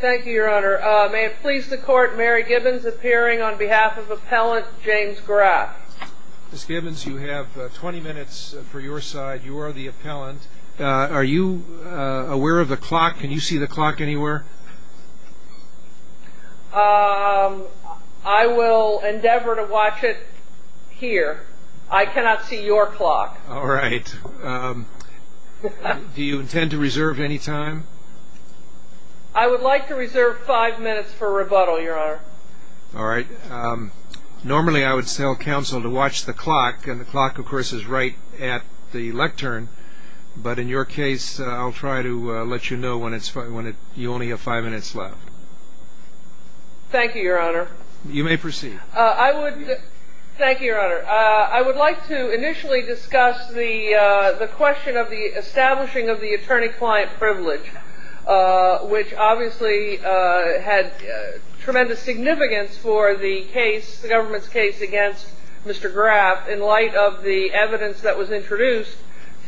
Thank you, Your Honor. May it please the Court, Mary Gibbons appearing on behalf of Appellant James Graf. Ms. Gibbons, you have 20 minutes for your side. You are the appellant. Are you aware of the clock? Can you see the clock anywhere? I will endeavor to watch it here. I cannot see your clock. All right. Do you intend to reserve any time? I would like to reserve five minutes for rebuttal, Your Honor. All right. Normally I would tell counsel to watch the clock, and the clock, of course, is right at the lectern. But in your case, I'll try to let you know when you only have five minutes left. Thank you, Your Honor. Thank you, Your Honor. I would like to initially discuss the question of the establishing of the attorney-client privilege, which obviously had tremendous significance for the case, the government's case against Mr. Graf, in light of the evidence that was introduced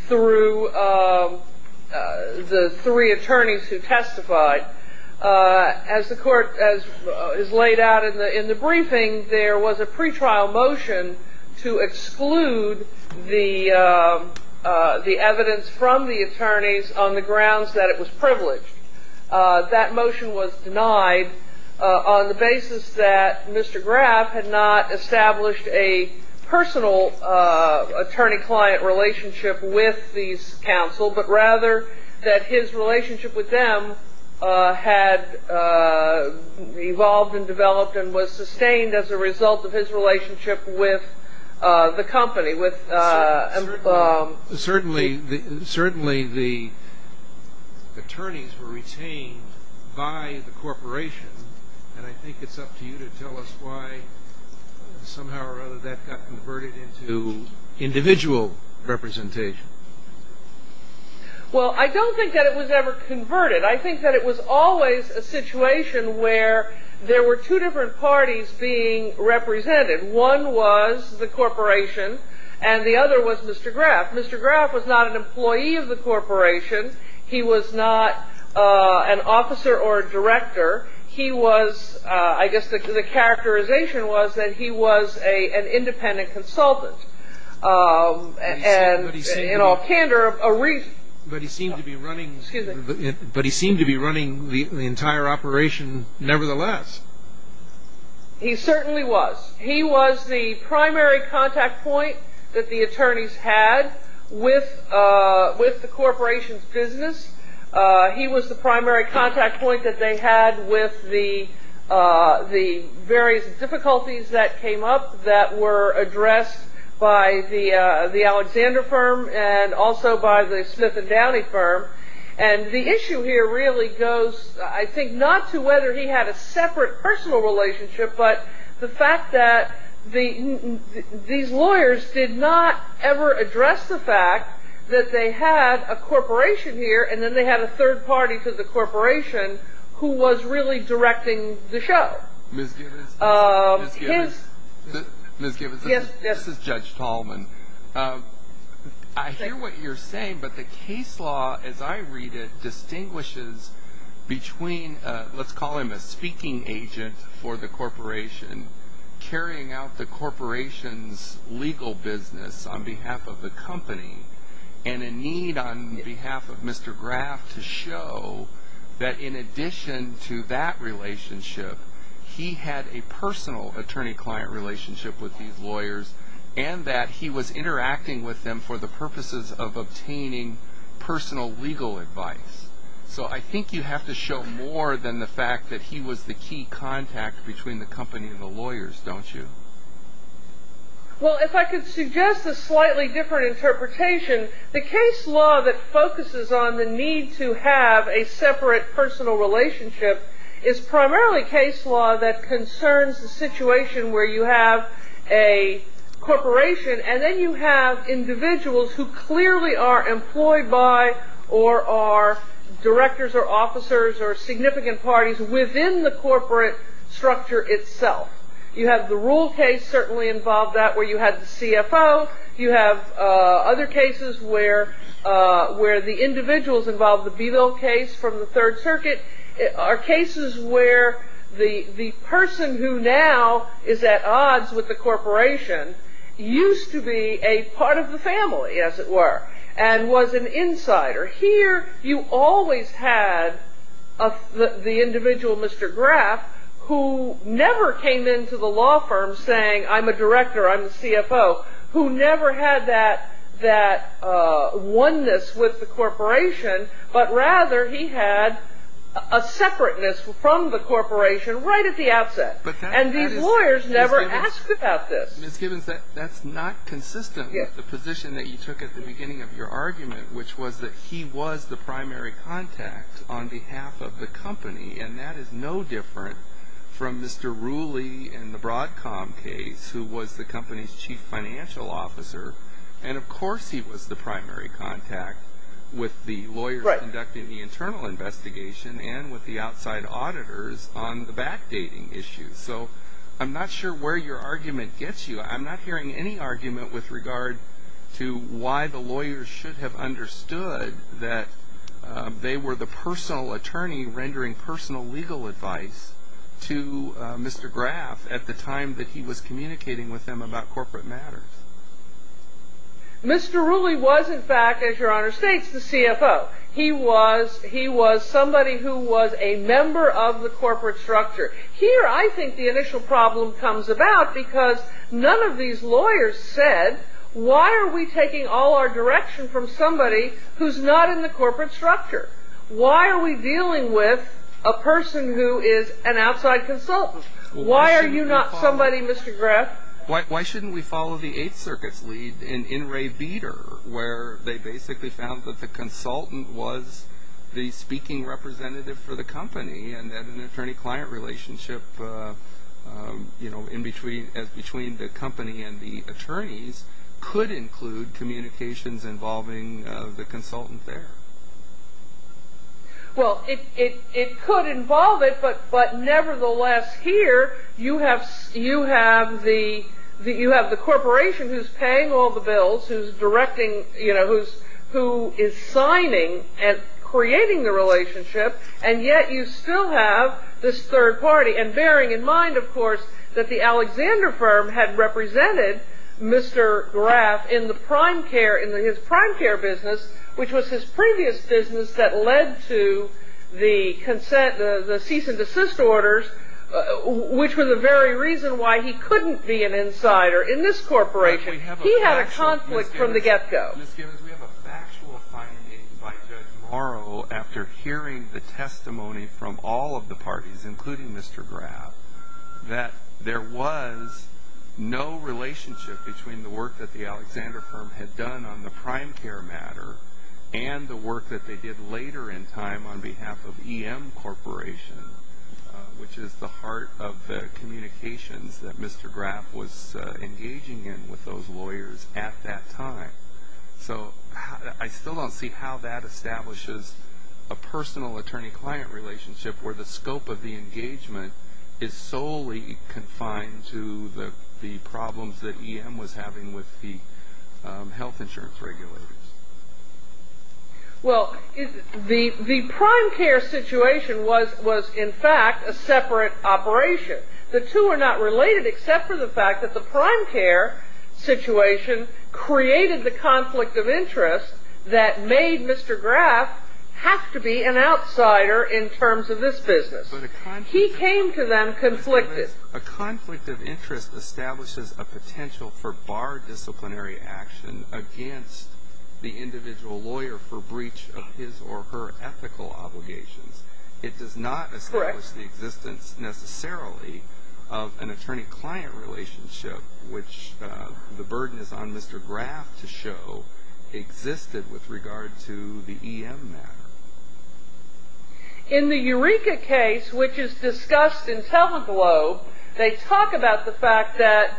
through the three attorneys who testified. As the Court has laid out in the briefing, there was a pretrial motion to exclude the evidence from the attorneys on the grounds that it was privileged. That motion was denied on the basis that Mr. Graf had not established a personal attorney-client relationship with these counsel, but rather that his relationship with them had evolved and developed and was sustained as a result of his relationship with the company. Certainly the attorneys were retained by the corporation, and I think it's up to you to tell us why somehow or other that got converted into individual representation. Well, I don't think that it was ever converted. I think that it was always a situation where there were two different parties being represented. One was the corporation, and the other was Mr. Graf. Mr. Graf was not an employee of the corporation. He was not an officer or a director. He was, I guess the characterization was that he was an independent consultant. But he seemed to be running the entire operation nevertheless. He certainly was. He was the primary contact point that the attorneys had with the corporation's business. He was the primary contact point that they had with the various difficulties that came up that were addressed by the Alexander firm and also by the Smith & Downey firm. And the issue here really goes, I think, not to whether he had a separate personal relationship, but the fact that these lawyers did not ever address the fact that they had a corporation here and then they had a third party to the corporation who was really directing the show. Ms. Gibbons, this is Judge Tallman. I hear what you're saying, but the case law, as I read it, let's call him a speaking agent for the corporation, carrying out the corporation's legal business on behalf of the company and a need on behalf of Mr. Graf to show that in addition to that relationship, he had a personal attorney-client relationship with these lawyers and that he was interacting with them for the purposes of obtaining personal legal advice. So I think you have to show more than the fact that he was the key contact between the company and the lawyers, don't you? Well, if I could suggest a slightly different interpretation, the case law that focuses on the need to have a separate personal relationship is primarily case law that concerns the situation where you have a corporation and then you have individuals who clearly are employed by or are directors or officers or significant parties within the corporate structure itself. You have the Rule case certainly involved that where you had the CFO. You have other cases where the individuals involved, the Beedle case from the Third Circuit, are cases where the person who now is at odds with the corporation used to be a part of the family, as it were, and was an insider. Here you always had the individual, Mr. Graf, who never came into the law firm saying I'm a director, I'm the CFO, who never had that oneness with the corporation, but rather he had a separateness from the corporation right at the outset. And these lawyers never asked about this. Ms. Gibbons, that's not consistent with the position that you took at the beginning of your argument, which was that he was the primary contact on behalf of the company, and that is no different from Mr. Rooley in the Broadcom case, who was the company's chief financial officer, and of course he was the primary contact with the lawyers conducting the internal investigation and with the outside auditors on the backdating issues. So I'm not sure where your argument gets you. I'm not hearing any argument with regard to why the lawyers should have understood that they were the personal attorney rendering personal legal advice to Mr. Graf at the time that he was communicating with them about corporate matters. Mr. Rooley was, in fact, as Your Honor states, the CFO. He was somebody who was a member of the corporate structure. Here I think the initial problem comes about because none of these lawyers said, why are we taking all our direction from somebody who's not in the corporate structure? Why are we dealing with a person who is an outside consultant? Why are you not somebody, Mr. Graf? Why shouldn't we follow the Eighth Circuit's lead in Ray Beder, where they basically found that the consultant was the speaking representative for the company and that an attorney-client relationship between the company and the attorneys could include communications involving the consultant there? Well, it could involve it, but nevertheless, here you have the corporation who's paying all the bills, who is signing and creating the relationship, and yet you still have this third party. And bearing in mind, of course, that the Alexander firm had represented Mr. Graf in his prime care business, which was his previous business that led to the cease and desist orders, which were the very reason why he couldn't be an insider in this corporation. He had a conflict from the get-go. Ms. Gibbons, we have a factual finding by Judge Morrow, after hearing the testimony from all of the parties, including Mr. Graf, that there was no relationship between the work that the Alexander firm had done on the prime care matter and the work that they did later in time on behalf of EM Corporation, which is the heart of the communications that Mr. Graf was engaging in with those lawyers at that time. So I still don't see how that establishes a personal attorney-client relationship where the scope of the engagement is solely confined to the problems that EM was having with the health insurance regulators. Well, the prime care situation was, in fact, a separate operation. The two are not related except for the fact that the prime care situation created the conflict of interest that made Mr. Graf have to be an outsider in terms of this business. He came to them conflicted. A conflict of interest establishes a potential for bar disciplinary action against the individual lawyer for breach of his or her ethical obligations. It does not establish the existence necessarily of an attorney-client relationship, which the burden is on Mr. Graf to show existed with regard to the EM matter. In the Eureka case, which is discussed in Teleglobe, they talk about the fact that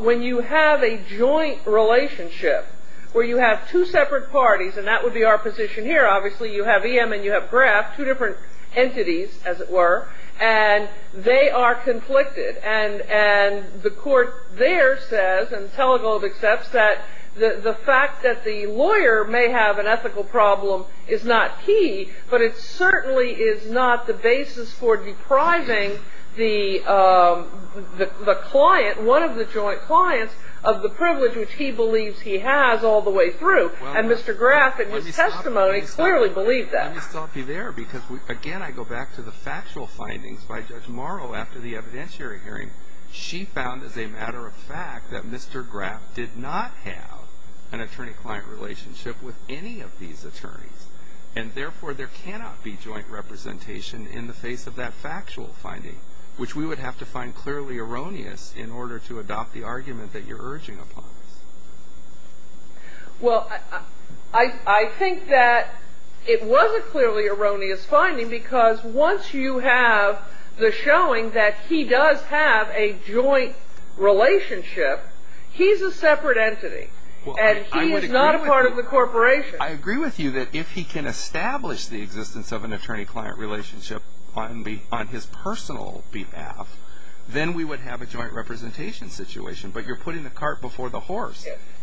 when you have a joint relationship where you have two separate parties, and that would be our position here, obviously, you have EM and you have Graf, two different entities, as it were, and they are conflicted. And the court there says, and Teleglobe accepts, that the fact that the lawyer may have an ethical problem is not key, but it certainly is not the basis for depriving the client, one of the joint clients, of the privilege which he believes he has all the way through. And Mr. Graf, in his testimony, clearly believed that. Let me stop you there because, again, I go back to the factual findings by Judge Morrow after the evidentiary hearing. She found, as a matter of fact, that Mr. Graf did not have an attorney-client relationship with any of these attorneys. And, therefore, there cannot be joint representation in the face of that factual finding, which we would have to find clearly erroneous in order to adopt the argument that you're urging upon us. Well, I think that it was a clearly erroneous finding because once you have the showing that he does have a joint relationship, he's a separate entity and he's not a part of the corporation. I agree with you that if he can establish the existence of an attorney-client relationship on his personal behalf, then we would have a joint representation situation.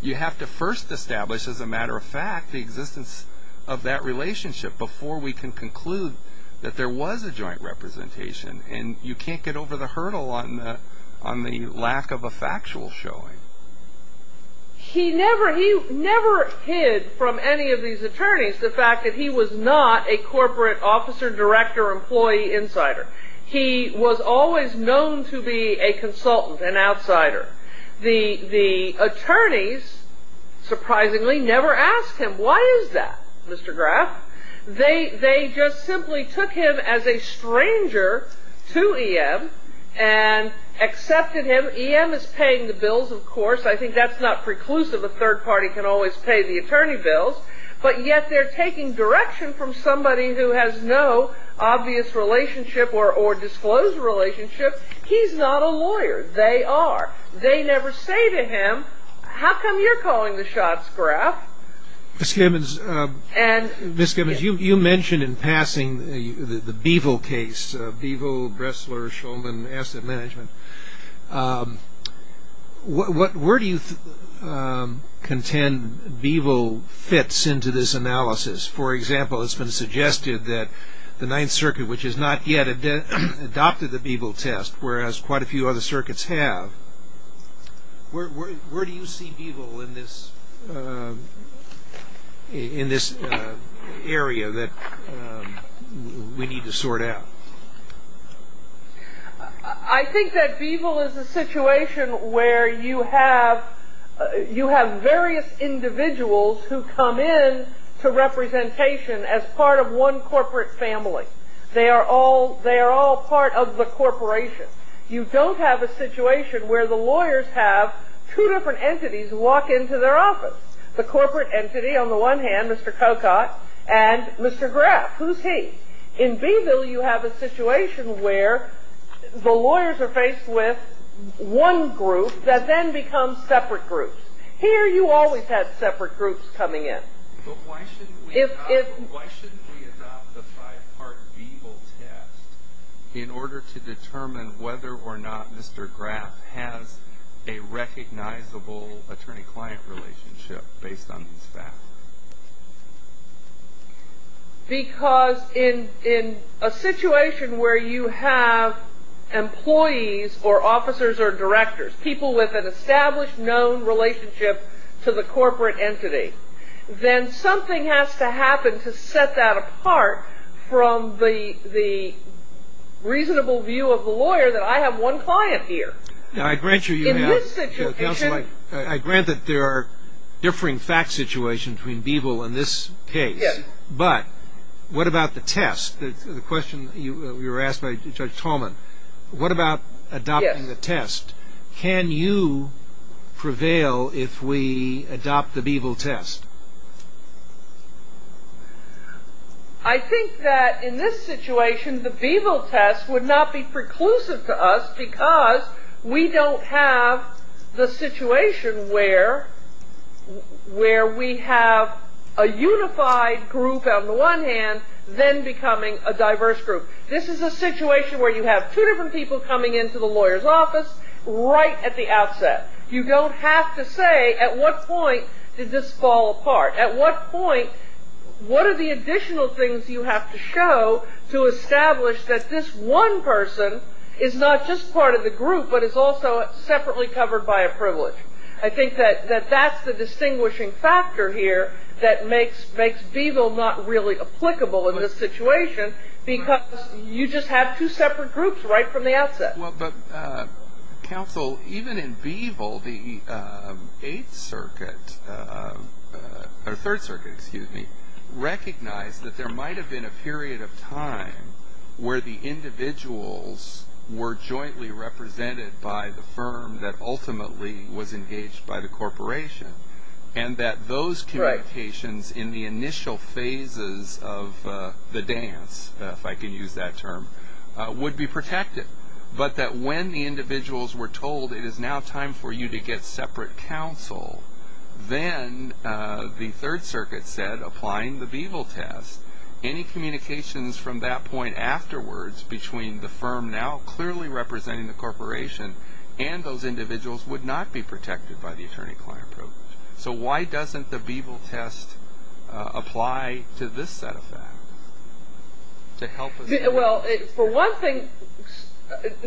You have to first establish, as a matter of fact, the existence of that relationship before we can conclude that there was a joint representation. And you can't get over the hurdle on the lack of a factual showing. He never hid from any of these attorneys the fact that he was not a corporate officer, director, employee, insider. He was always known to be a consultant, an outsider. The attorneys, surprisingly, never asked him, why is that, Mr. Graff? They just simply took him as a stranger to EM and accepted him. EM is paying the bills, of course. I think that's not preclusive. A third party can always pay the attorney bills. But yet they're taking direction from somebody who has no obvious relationship or disclosed relationship. He's not a lawyer. They are. They never say to him, how come you're calling the shots, Graff? Ms. Gibbons, you mentioned in passing the Beevill case, Beevill, Bressler, Shulman, Asset Management. Where do you contend Beevill fits into this analysis? For example, it's been suggested that the Ninth Circuit, which has not yet adopted the Beevill test, whereas quite a few other circuits have, where do you see Beevill in this area that we need to sort out? I think that Beevill is a situation where you have various individuals who come in to representation as part of one corporate family. They are all part of the corporation. You don't have a situation where the lawyers have two different entities walk into their office. The corporate entity on the one hand, Mr. Coccott, and Mr. Graff. Who's he? In Beevill, you have a situation where the lawyers are faced with one group that then becomes separate groups. Here you always had separate groups coming in. But why shouldn't we adopt the five-part Beevill test in order to determine whether or not Mr. Graff has a recognizable attorney-client relationship based on these facts? Because in a situation where you have employees or officers or directors, people with an established, known relationship to the corporate entity, then something has to happen to set that apart from the reasonable view of the lawyer that I have one client here. In this situation- I grant that there are differing fact situations between Beevill and this case. Yes. But what about the test? The question you were asked by Judge Tallman, what about adopting the test? Yes. Can you prevail if we adopt the Beevill test? I think that in this situation, the Beevill test would not be preclusive to us because we don't have the situation where we have a unified group on the one hand, then becoming a diverse group. This is a situation where you have two different people coming into the lawyer's office right at the outset. You don't have to say, at what point did this fall apart? At what point, what are the additional things you have to show to establish that this one person is not just part of the group but is also separately covered by a privilege? I think that that's the distinguishing factor here that makes Beevill not really applicable in this situation because you just have two separate groups right from the outset. Counsel, even in Beevill, the Third Circuit recognized that there might have been a period of time where the individuals were jointly represented by the firm that ultimately was engaged by the corporation and that those communications in the initial phases of the dance, if I can use that term, would be protected. But that when the individuals were told, it is now time for you to get separate counsel, then the Third Circuit said, applying the Beevill test, any communications from that point afterwards between the firm now clearly representing the corporation and those individuals would not be protected by the attorney-client approach. So why doesn't the Beevill test apply to this set of facts? Well, for one thing,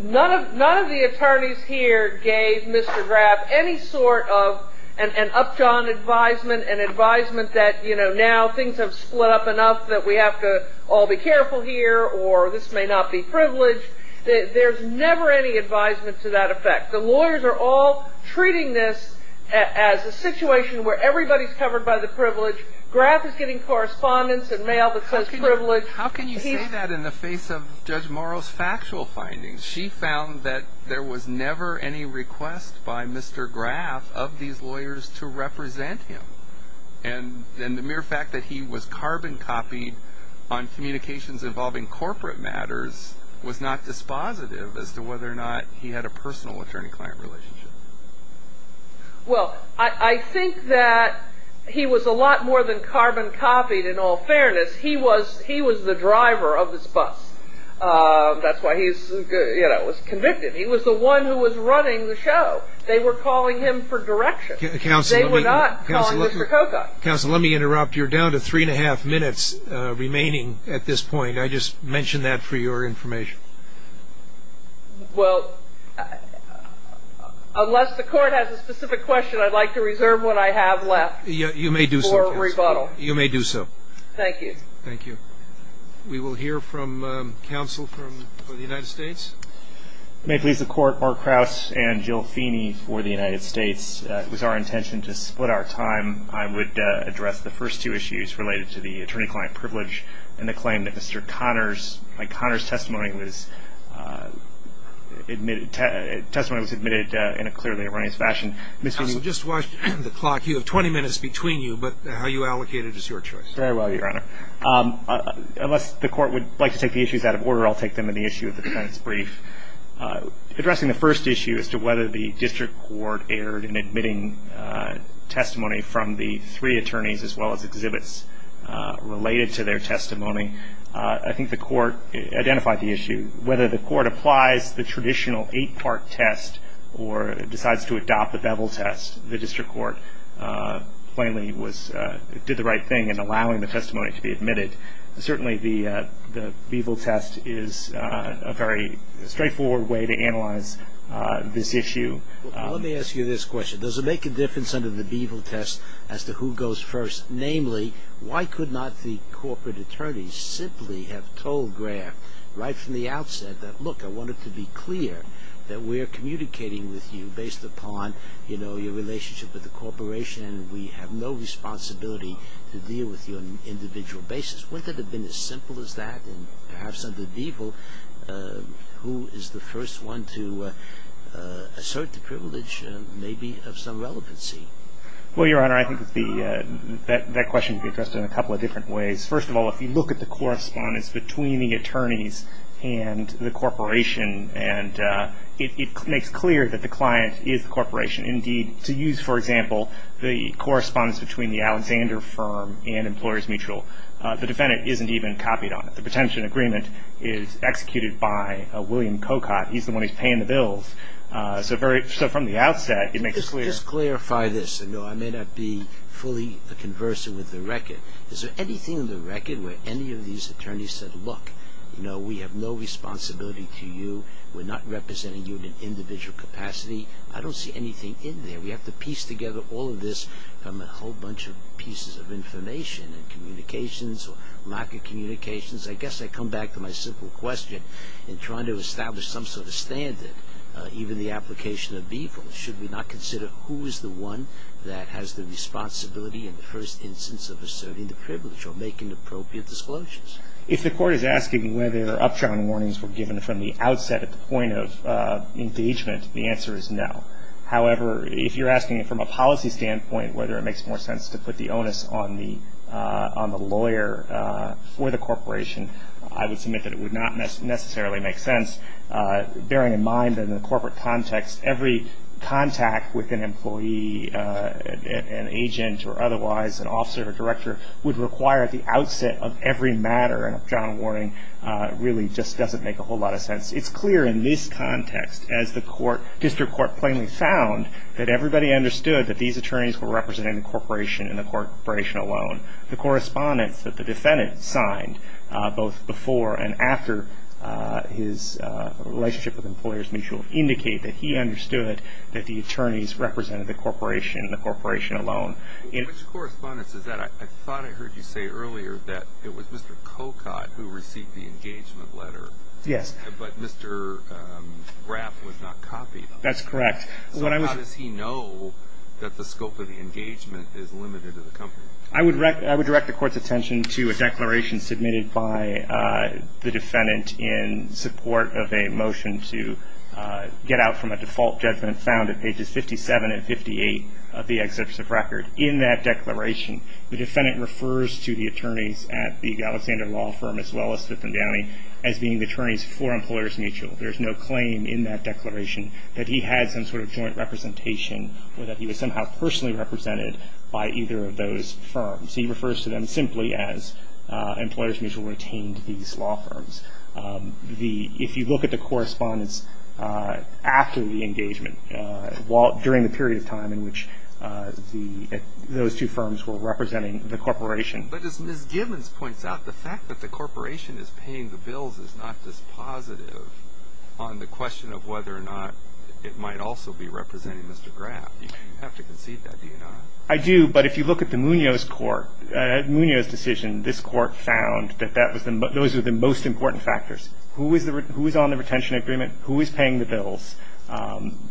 none of the attorneys here gave Mr. Graff any sort of an up-john advisement, an advisement that, you know, now things have split up enough that we have to all be careful here or this may not be privileged. There's never any advisement to that effect. The lawyers are all treating this as a situation where everybody's covered by the privilege. Graff is getting correspondence and mail that says privilege. How can you say that in the face of Judge Morrow's factual findings? She found that there was never any request by Mr. Graff of these lawyers to represent him. And the mere fact that he was carbon copied on communications involving corporate matters was not dispositive as to whether or not he had a personal attorney-client relationship. Well, I think that he was a lot more than carbon copied, in all fairness. He was the driver of this bus. That's why he was convicted. He was the one who was running the show. They were calling him for direction. They were not calling him for coca. Counsel, let me interrupt. You're down to three and a half minutes remaining at this point. I just mentioned that for your information. Well, unless the Court has a specific question, I'd like to reserve what I have left for rebuttal. You may do so, Counsel. You may do so. Thank you. Thank you. We will hear from counsel for the United States. It may please the Court, Mark Krauss and Jill Feeney for the United States. It was our intention to split our time. I would address the first two issues related to the attorney-client privilege and the claim that Mr. Connors, like Connors' testimony was admitted, testimony was admitted in a clearly erroneous fashion. Counsel, just watch the clock. You have 20 minutes between you, but how you allocate it is your choice. Very well, Your Honor. Unless the Court would like to take the issues out of order, I'll take them in the issue of the defendant's brief. Addressing the first issue as to whether the district court erred in admitting testimony from the three attorneys as well as exhibits related to their testimony, I think the Court identified the issue. Whether the Court applies the traditional eight-part test or decides to adopt the bevel test, the district court plainly did the right thing in allowing the testimony to be admitted. Certainly, the bevel test is a very straightforward way to analyze this issue. Let me ask you this question. Does it make a difference under the bevel test as to who goes first? Namely, why could not the corporate attorneys simply have told Graff right from the outset that, look, I want it to be clear that we're communicating with you based upon your relationship with the corporation and we have no responsibility to deal with you on an individual basis? Wouldn't it have been as simple as that? And perhaps under bevel, who is the first one to assert the privilege maybe of some relevancy? Well, Your Honor, I think that question can be addressed in a couple of different ways. First of all, if you look at the correspondence between the attorneys and the corporation, and it makes clear that the client is the corporation. Indeed, to use, for example, the correspondence between the Alexander firm and Employers Mutual, the defendant isn't even copied on it. The pretension agreement is executed by William Cocotte. He's the one who's paying the bills. So from the outset, it makes clear. Let me just clarify this. I may not be fully conversant with the record. Is there anything in the record where any of these attorneys said, look, we have no responsibility to you, we're not representing you in an individual capacity? I don't see anything in there. We have to piece together all of this from a whole bunch of pieces of information and communications or lack of communications. I guess I come back to my simple question in trying to establish some sort of standard, even the application of evil. Should we not consider who is the one that has the responsibility in the first instance of asserting the privilege or making appropriate disclosures? If the court is asking whether upturn warnings were given from the outset at the point of engagement, the answer is no. However, if you're asking it from a policy standpoint, whether it makes more sense to put the onus on the lawyer for the corporation, I would submit that it would not necessarily make sense. Bearing in mind that in the corporate context, every contact with an employee, an agent or otherwise, an officer or director, would require the outset of every matter and upturn warning really just doesn't make a whole lot of sense. It's clear in this context, as the district court plainly found, that everybody understood that these attorneys were representing the corporation and the corporation alone. The correspondence that the defendant signed both before and after his relationship with employers mutual indicate that he understood that the attorneys represented the corporation and the corporation alone. Which correspondence is that? I thought I heard you say earlier that it was Mr. Cocotte who received the engagement letter. Yes. But Mr. Graff was not copied. That's correct. So how does he know that the scope of the engagement is limited to the company? I would direct the court's attention to a declaration submitted by the defendant in support of a motion to get out from a default judgment found at pages 57 and 58 of the exception record. In that declaration, the defendant refers to the attorneys at the Alexander Law Firm as well as Fifth and Downey as being the attorneys for employers mutual. There's no claim in that declaration that he had some sort of joint representation or that he was somehow personally represented by either of those firms. He refers to them simply as employers mutual retained these law firms. If you look at the correspondence after the engagement, during the period of time in which those two firms were representing the corporation. But as Ms. Gibbons points out, the fact that the corporation is paying the bills is not this positive on the question of whether or not it might also be representing Mr. Graff. You have to concede that, do you not? I do. But if you look at the Munoz decision, this court found that those are the most important factors. Who is on the retention agreement? Who is paying the bills?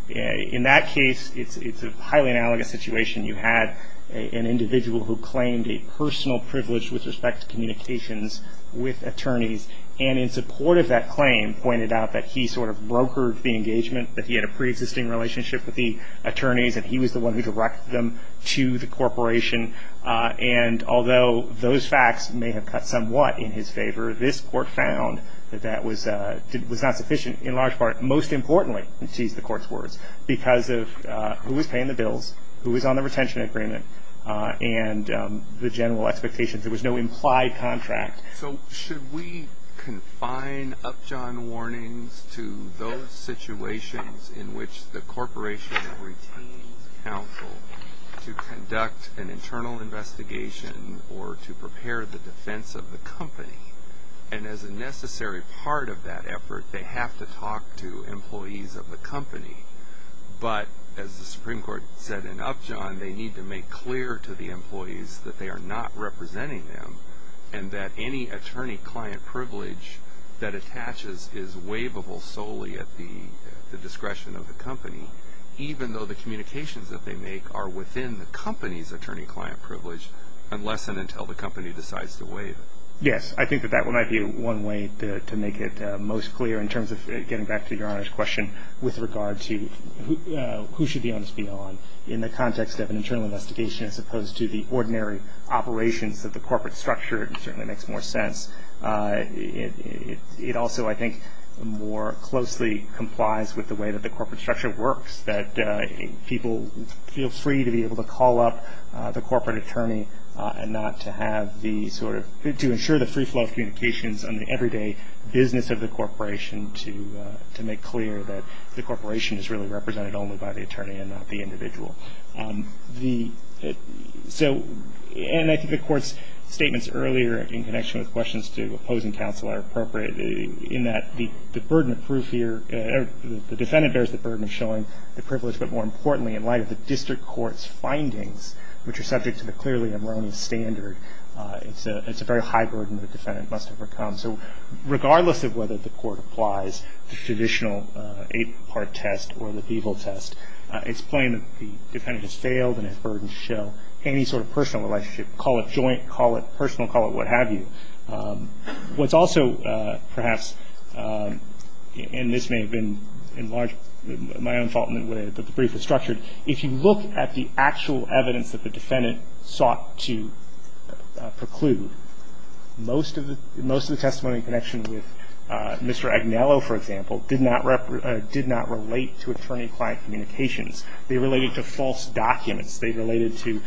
In that case, it's a highly analogous situation. You had an individual who claimed a personal privilege with respect to communications with attorneys. And in support of that claim, pointed out that he sort of brokered the engagement, that he had a pre-existing relationship with the attorneys, and he was the one who directed them to the corporation. And although those facts may have cut somewhat in his favor, this court found that that was not sufficient in large part. Most importantly, to use the court's words, because of who was paying the bills, who was on the retention agreement, and the general expectations. There was no implied contract. So should we confine Upjohn warnings to those situations in which the corporation retains counsel to conduct an internal investigation or to prepare the defense of the company? And as a necessary part of that effort, they have to talk to employees of the company. But as the Supreme Court said in Upjohn, they need to make clear to the employees that they are not representing them and that any attorney-client privilege that attaches is waivable solely at the discretion of the company, even though the communications that they make are within the company's attorney-client privilege unless and until the company decides to waive it. Yes, I think that that might be one way to make it most clear in terms of getting back to Your Honor's question with regard to who should be honest beyond in the context of an internal investigation as opposed to the ordinary operations of the corporate structure. It certainly makes more sense. It also, I think, more closely complies with the way that the corporate structure works, that people feel free to be able to call up the corporate attorney and not to have the sort of – to ensure the free flow of communications in the everyday business of the corporation to make clear that the corporation is really represented only by the attorney and not the individual. The – so – and I think the Court's statements earlier in connection with questions to opposing counsel are appropriate in that the burden of proof here – the defendant bears the burden of showing the privilege, but more importantly, in light of the district court's findings, which are subject to the clearly erroneous standard, it's a very high burden the defendant must overcome. So regardless of whether the court applies the traditional eight-part test or the VIVIL test, it's plain that the defendant has failed and has burdened to show any sort of personal relationship, call it joint, call it personal, call it what have you. What's also perhaps – and this may have been in large – my own fault in the way that the brief is structured. If you look at the actual evidence that the defendant sought to preclude, most of the – most of the testimony in connection with Mr. Agnello, for example, did not – did not relate to attorney-client communications. They related to false documents. They related to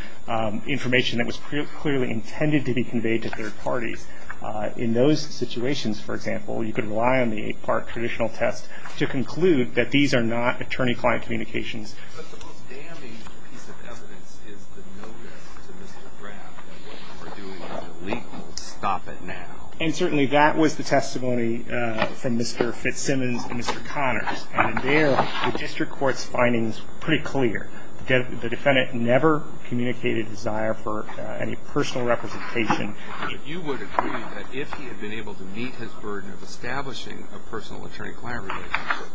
information that was clearly intended to be conveyed to third parties. In those situations, for example, you could rely on the eight-part traditional test to conclude that these are not attorney-client communications. But the most damaged piece of evidence is the notice to Mr. Graff that what you are doing is illegal. Stop it now. And certainly that was the testimony from Mr. Fitzsimmons and Mr. Connors. And there, the district court's findings were pretty clear. The defendant never communicated a desire for any personal representation. You would agree that if he had been able to meet his burden of establishing a personal attorney-client relationship,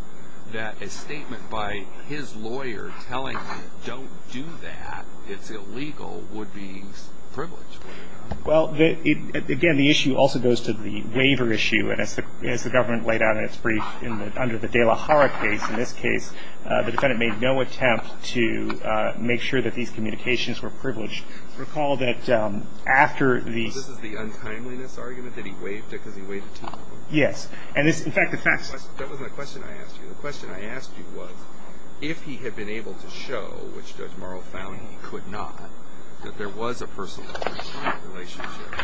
that a statement by his lawyer telling him, don't do that, it's illegal, would be privileged. Well, again, the issue also goes to the waiver issue. And as the government laid out in its brief under the De La Hara case, in this case, the defendant made no attempt to make sure that these communications were privileged. Recall that after the – This is the untimeliness argument, that he waived it because he waited too long? Yes. That wasn't the question I asked you. The question I asked you was, if he had been able to show, which Judge Morrow found he could not, that there was a personal attorney-client relationship,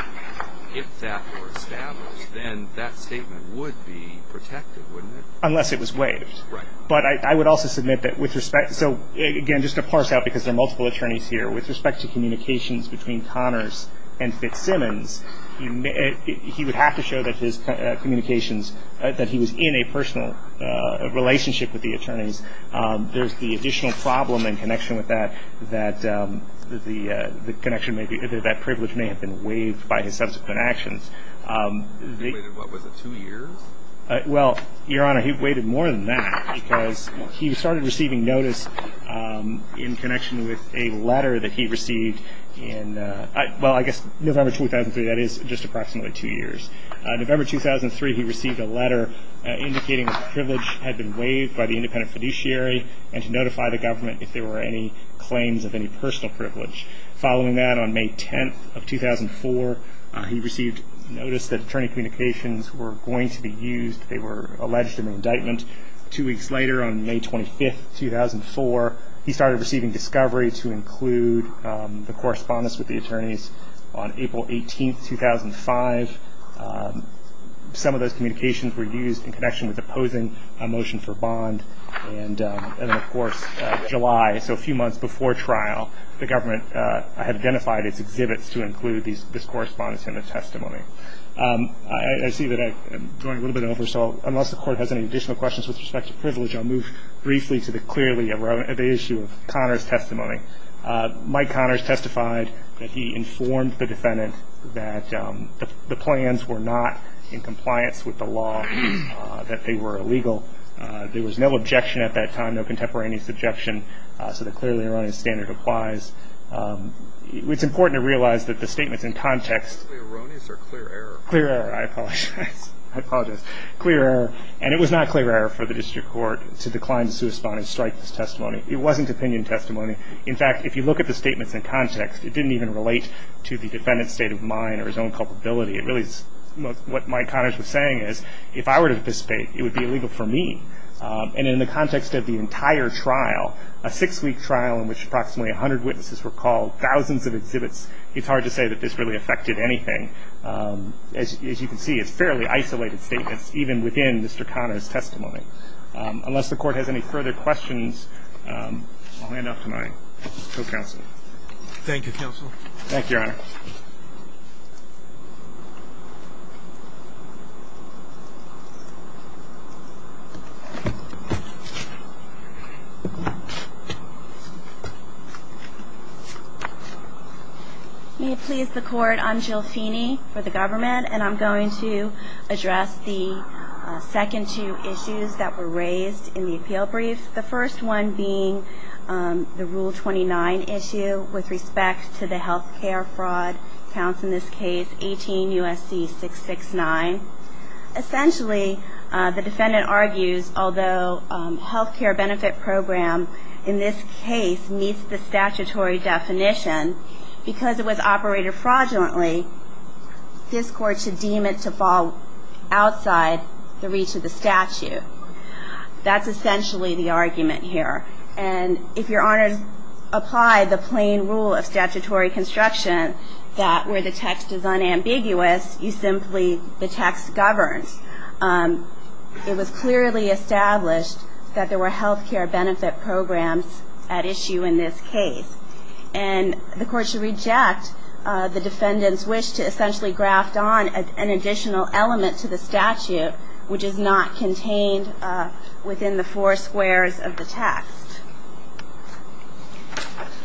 if that were established, then that statement would be protected, wouldn't it? Unless it was waived. Right. But I would also submit that with respect – so, again, just to parse out, because there are multiple attorneys here, with respect to communications between Connors and Fitzsimmons, he would have to show that his communications – that he was in a personal relationship with the attorneys. There's the additional problem in connection with that, that the connection may be – that privilege may have been waived by his subsequent actions. He waited, what, was it two years? Well, Your Honor, he waited more than that because he started receiving notice in connection with a letter that he received in – that is, just approximately two years. November 2003, he received a letter indicating that the privilege had been waived by the independent fiduciary and to notify the government if there were any claims of any personal privilege. Following that, on May 10th of 2004, he received notice that attorney communications were going to be used. They were alleged in the indictment. Two weeks later, on May 25th, 2004, he started receiving discovery to include the correspondence with the attorneys. On April 18th, 2005, some of those communications were used in connection with opposing a motion for bond. And then, of course, July, so a few months before trial, the government had identified its exhibits to include this correspondence in the testimony. I see that I'm going a little bit over, so unless the Court has any additional questions with respect to privilege, I'll move briefly to the clearly erroneous – the issue of Connors' testimony. Mike Connors testified that he informed the defendant that the plans were not in compliance with the law, that they were illegal. There was no objection at that time, no contemporaneous objection, so the clearly erroneous standard applies. It's important to realize that the statements in context – Clearly erroneous or clear error? Clear error, I apologize. Clear error. And it was not clear error for the District Court to decline to strike this testimony. It wasn't opinion testimony. In fact, if you look at the statements in context, it didn't even relate to the defendant's state of mind or his own culpability. It really – what Mike Connors was saying is, if I were to participate, it would be illegal for me. And in the context of the entire trial, a six-week trial in which approximately 100 witnesses were called, thousands of exhibits, it's hard to say that this really affected anything. As you can see, it's fairly isolated statements even within Mr. Connors' testimony. Unless the Court has any further questions, I'll hand off to my co-counsel. Thank you, Counsel. Thank you, Your Honor. May it please the Court. I'm Jill Feeney for the government, and I'm going to address the second two issues that were raised in the appeal brief, the first one being the Rule 29 issue with respect to the health care fraud counts in this case 18 U.S.C. 669. Essentially, the defendant argues, although health care benefit program in this case meets the statutory definition, because it was operated fraudulently, this Court should deem it to fall outside the reach of the statute. That's essentially the argument here. And if Your Honors apply the plain rule of statutory construction that where the text is unambiguous, you simply, the text governs. It was clearly established that there were health care benefit programs at issue in this case. And the Court should reject the defendant's wish to essentially graft on an additional element to the statute, which is not contained within the four squares of the text.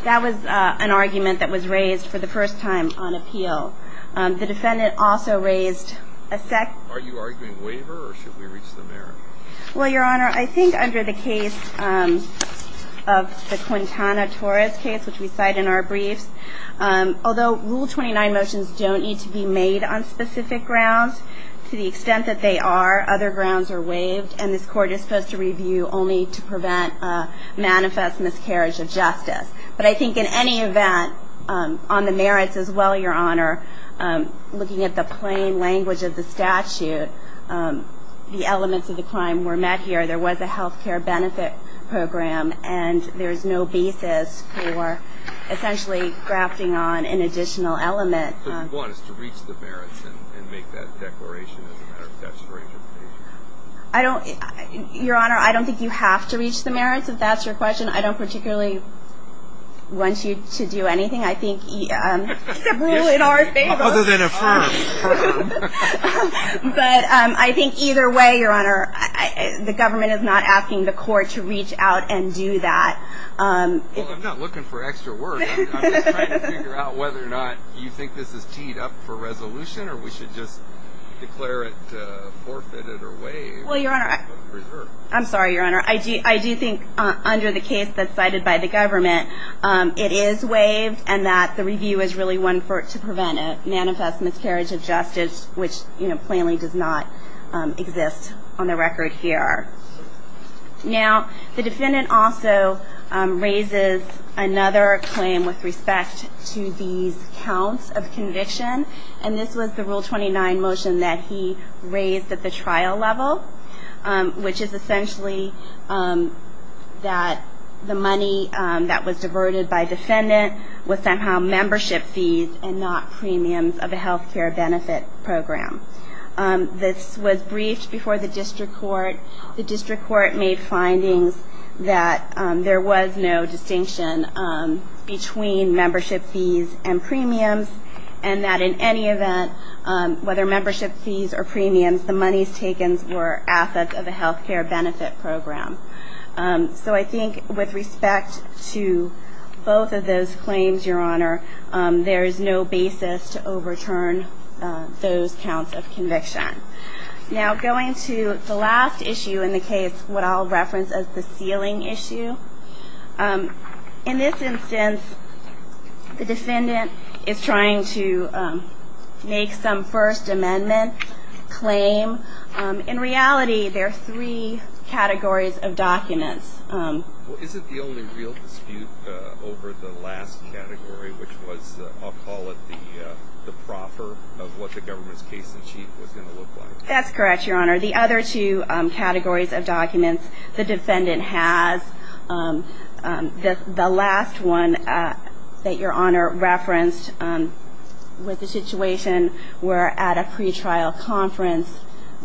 That was an argument that was raised for the first time on appeal. The defendant also raised a second. Are you arguing waiver, or should we reach the merit? Well, Your Honor, I think under the case of the Quintana Torres case, which we cite in our briefs, although Rule 29 motions don't need to be made on specific grounds, to the extent that they are, other grounds are waived, and this Court is supposed to review only to prevent manifest miscarriage of justice. But I think in any event, on the merits as well, Your Honor, looking at the plain language of the statute, the elements of the crime were met here. There was a health care benefit program, and there is no basis for essentially grafting on an additional element. So what you want is to reach the merits and make that declaration as a matter of statutory justification. Your Honor, I don't think you have to reach the merits, if that's your question. I don't particularly want you to do anything. Except rule in our favor. Other than affirm. But I think either way, Your Honor, the government is not asking the Court to reach out and do that. Well, I'm not looking for extra work. I'm just trying to figure out whether or not you think this is teed up for resolution, or we should just declare it forfeited or waived. Well, Your Honor, I'm sorry, Your Honor. I do think under the case that's cited by the government, it is waived, and that the review is really one to prevent a manifest miscarriage of justice, which plainly does not exist on the record here. Now, the defendant also raises another claim with respect to these counts of conviction, and this was the Rule 29 motion that he raised at the trial level, which is essentially that the money that was diverted by defendant was somehow membership fees and not premiums of a health care benefit program. This was briefed before the district court. The district court made findings that there was no distinction between membership fees and premiums, and that in any event, whether membership fees or premiums, the monies taken were assets of a health care benefit program. So I think with respect to both of those claims, Your Honor, there is no basis to overturn those counts of conviction. Now, going to the last issue in the case, what I'll reference as the sealing issue, in this instance, the defendant is trying to make some First Amendment claim. In reality, there are three categories of documents. Well, isn't the only real dispute over the last category, which was I'll call it the proffer of what the government's case in chief was going to look like? That's correct, Your Honor. The other two categories of documents the defendant has, the last one that Your Honor referenced with the situation were at a pretrial conference.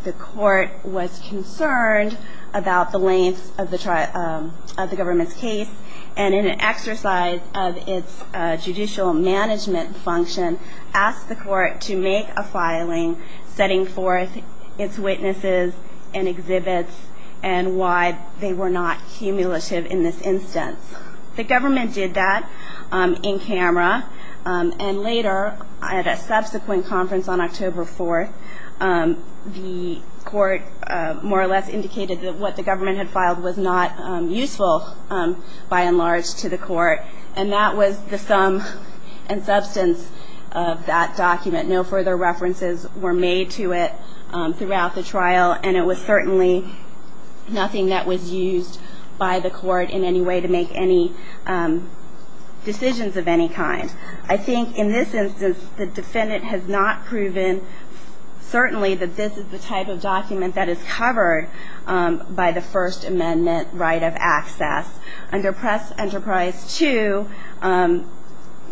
The court was concerned about the length of the government's case, and in an exercise of its judicial management function, asked the court to make a filing setting forth its witnesses and exhibits and why they were not cumulative in this instance. The government did that in camera, and later, at a subsequent conference on October 4th, the court more or less indicated that what the government had filed was not useful, by and large, to the court, and that was the sum and substance of that document. No further references were made to it throughout the trial, and it was certainly nothing that was used by the court in any way to make any decisions of any kind. I think in this instance, the defendant has not proven, certainly, that this is the type of document that is covered by the First Amendment right of access. Under Press Enterprise 2,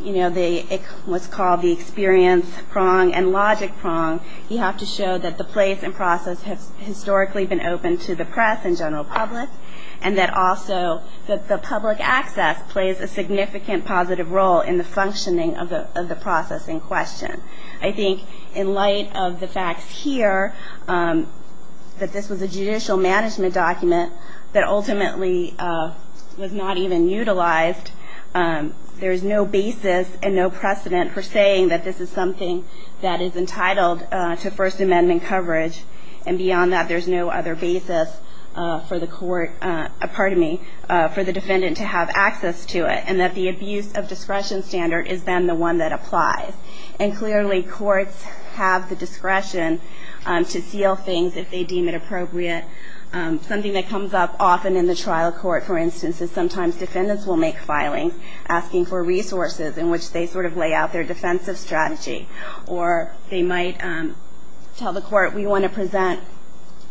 you know, what's called the experience prong and logic prong, you have to show that the place and process have historically been open to the press and general public, and that also the public access plays a significant positive role in the functioning of the process in question. I think in light of the facts here, that this was a judicial management document that ultimately was not even utilized, there is no basis and no precedent for saying that this is something that is entitled to First Amendment coverage, and beyond that, there's no other basis for the defendant to have access to it, and that the abuse of discretion standard is then the one that applies. And clearly, courts have the discretion to seal things if they deem it appropriate. Something that comes up often in the trial court, for instance, is sometimes defendants will make filings asking for resources in which they sort of lay out their defensive strategy, or they might tell the court, we want to present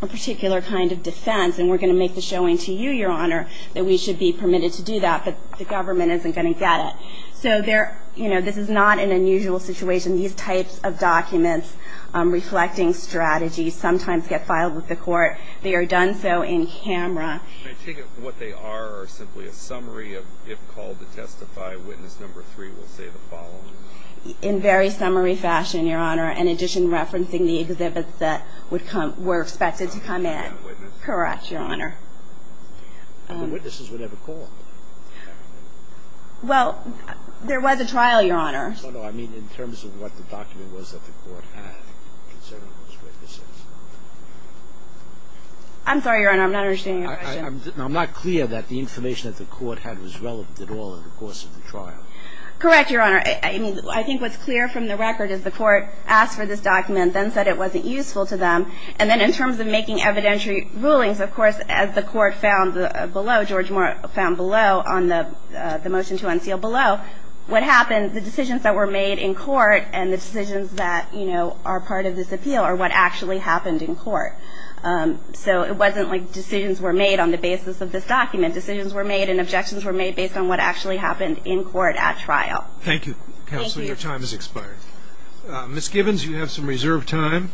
a particular kind of defense, and we're going to make the showing to you, Your Honor, that we should be permitted to do that, but the government isn't going to get it. So there, you know, this is not an unusual situation. These types of documents reflecting strategies sometimes get filed with the court. They are done so in camera. I take it what they are are simply a summary of if called to testify, witness number three will say the following. In very summary fashion, Your Honor, in addition referencing the exhibits that were expected to come in. Correct, Your Honor. And the witnesses were never called? Well, there was a trial, Your Honor. No, no, I mean in terms of what the document was that the court had concerning those witnesses. I'm sorry, Your Honor, I'm not understanding your question. I'm not clear that the information that the court had was relevant at all in the course of the trial. Correct, Your Honor. I think what's clear from the record is the court asked for this document, then said it wasn't useful to them. And then in terms of making evidentiary rulings, of course, as the court found below, George Moore found below on the motion to unseal below, what happened, the decisions that were made in court and the decisions that, you know, are part of this appeal are what actually happened in court. So it wasn't like decisions were made on the basis of this document. Decisions were made and objections were made based on what actually happened in court at trial. Thank you, Counselor. Your time has expired. Ms. Gibbons, you have some reserved time.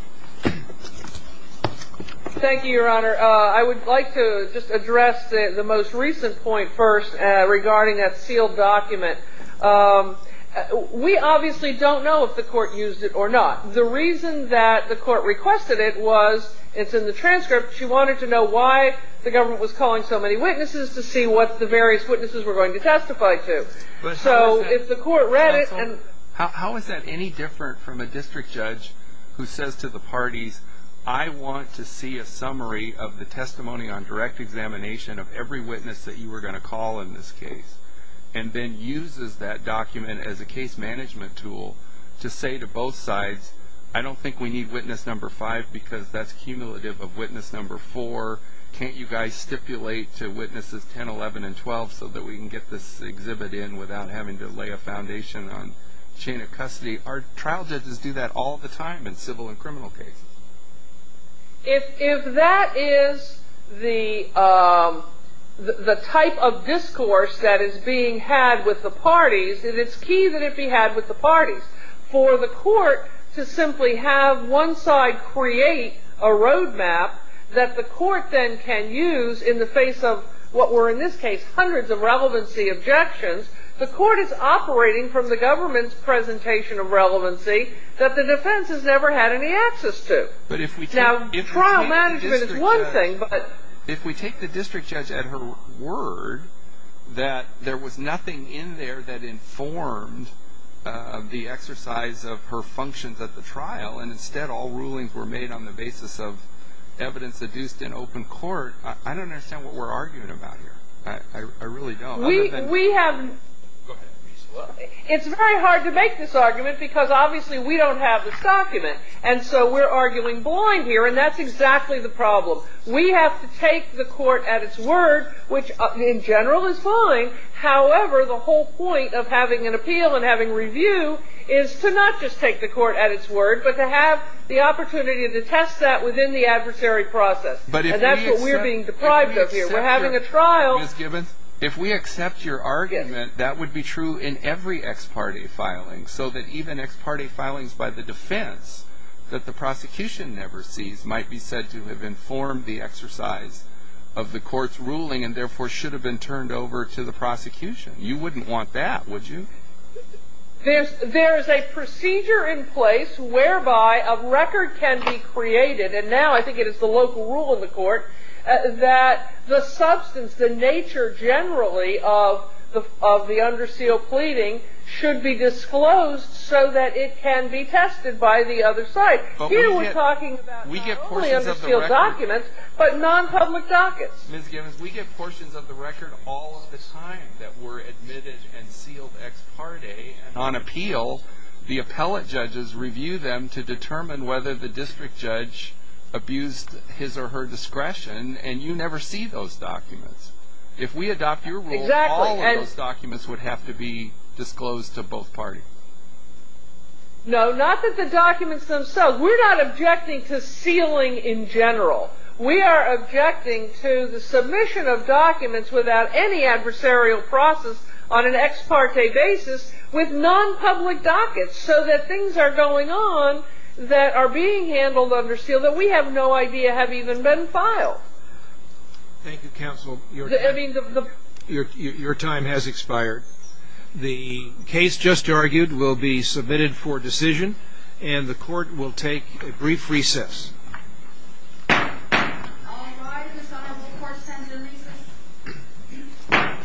Thank you, Your Honor. I would like to just address the most recent point first regarding that sealed document. We obviously don't know if the court used it or not. The reason that the court requested it was it's in the transcript. She wanted to know why the government was calling so many witnesses to see what the various witnesses were going to testify to. So if the court read it and... Counsel, how is that any different from a district judge who says to the parties, I want to see a summary of the testimony on direct examination of every witness that you were going to call in this case and then uses that document as a case management tool to say to both sides, I don't think we need witness number five because that's cumulative of witness number four. Can't you guys stipulate to witnesses 10, 11, and 12 so that we can get this exhibit in without having to lay a foundation on chain of custody? Our trial judges do that all the time in civil and criminal cases. If that is the type of discourse that is being had with the parties, then it's key that it be had with the parties. For the court to simply have one side create a road map that the court then can use in the face of what were, in this case, hundreds of relevancy objections, the court is operating from the government's presentation of relevancy that the defense has never had any access to. Now, trial management is one thing, but... I don't understand what we're arguing about here. I really don't. We have... Go ahead. It's very hard to make this argument because obviously we don't have this document, and so we're arguing blind here, and that's exactly the problem. We have to take the court at its word, which in general is fine. But if we accept... And that's what we're being deprived of here. We're having a trial... Ms. Gibbons, if we accept your argument, that would be true in every ex parte filing, so that even ex parte filings by the defense that the prosecution never sees might be said to have informed the exercise of the court's ruling and therefore should have been turned over to the prosecution. You wouldn't want that, would you? There's a procedure in place whereby a record can be created, and now I think it is the local rule in the court, that the substance, the nature generally of the under seal pleading should be disclosed so that it can be tested by the other side. Here we're talking about not only under seal documents, but non-public dockets. Ms. Gibbons, we get portions of the record all of the time that were admitted and sealed ex parte. On appeal, the appellate judges review them to determine whether the district judge abused his or her discretion, and you never see those documents. If we adopt your rule, all of those documents would have to be disclosed to both parties. No, not that the documents themselves... We're not objecting to sealing in general. We are objecting to the submission of documents without any adversarial process on an ex parte basis with non-public dockets so that things are going on that are being handled under seal that we have no idea have even been filed. Thank you, counsel. Your time has expired. The case just argued will be submitted for decision, and the court will take a brief recess. All rise, the Sotomayor court stands in recess.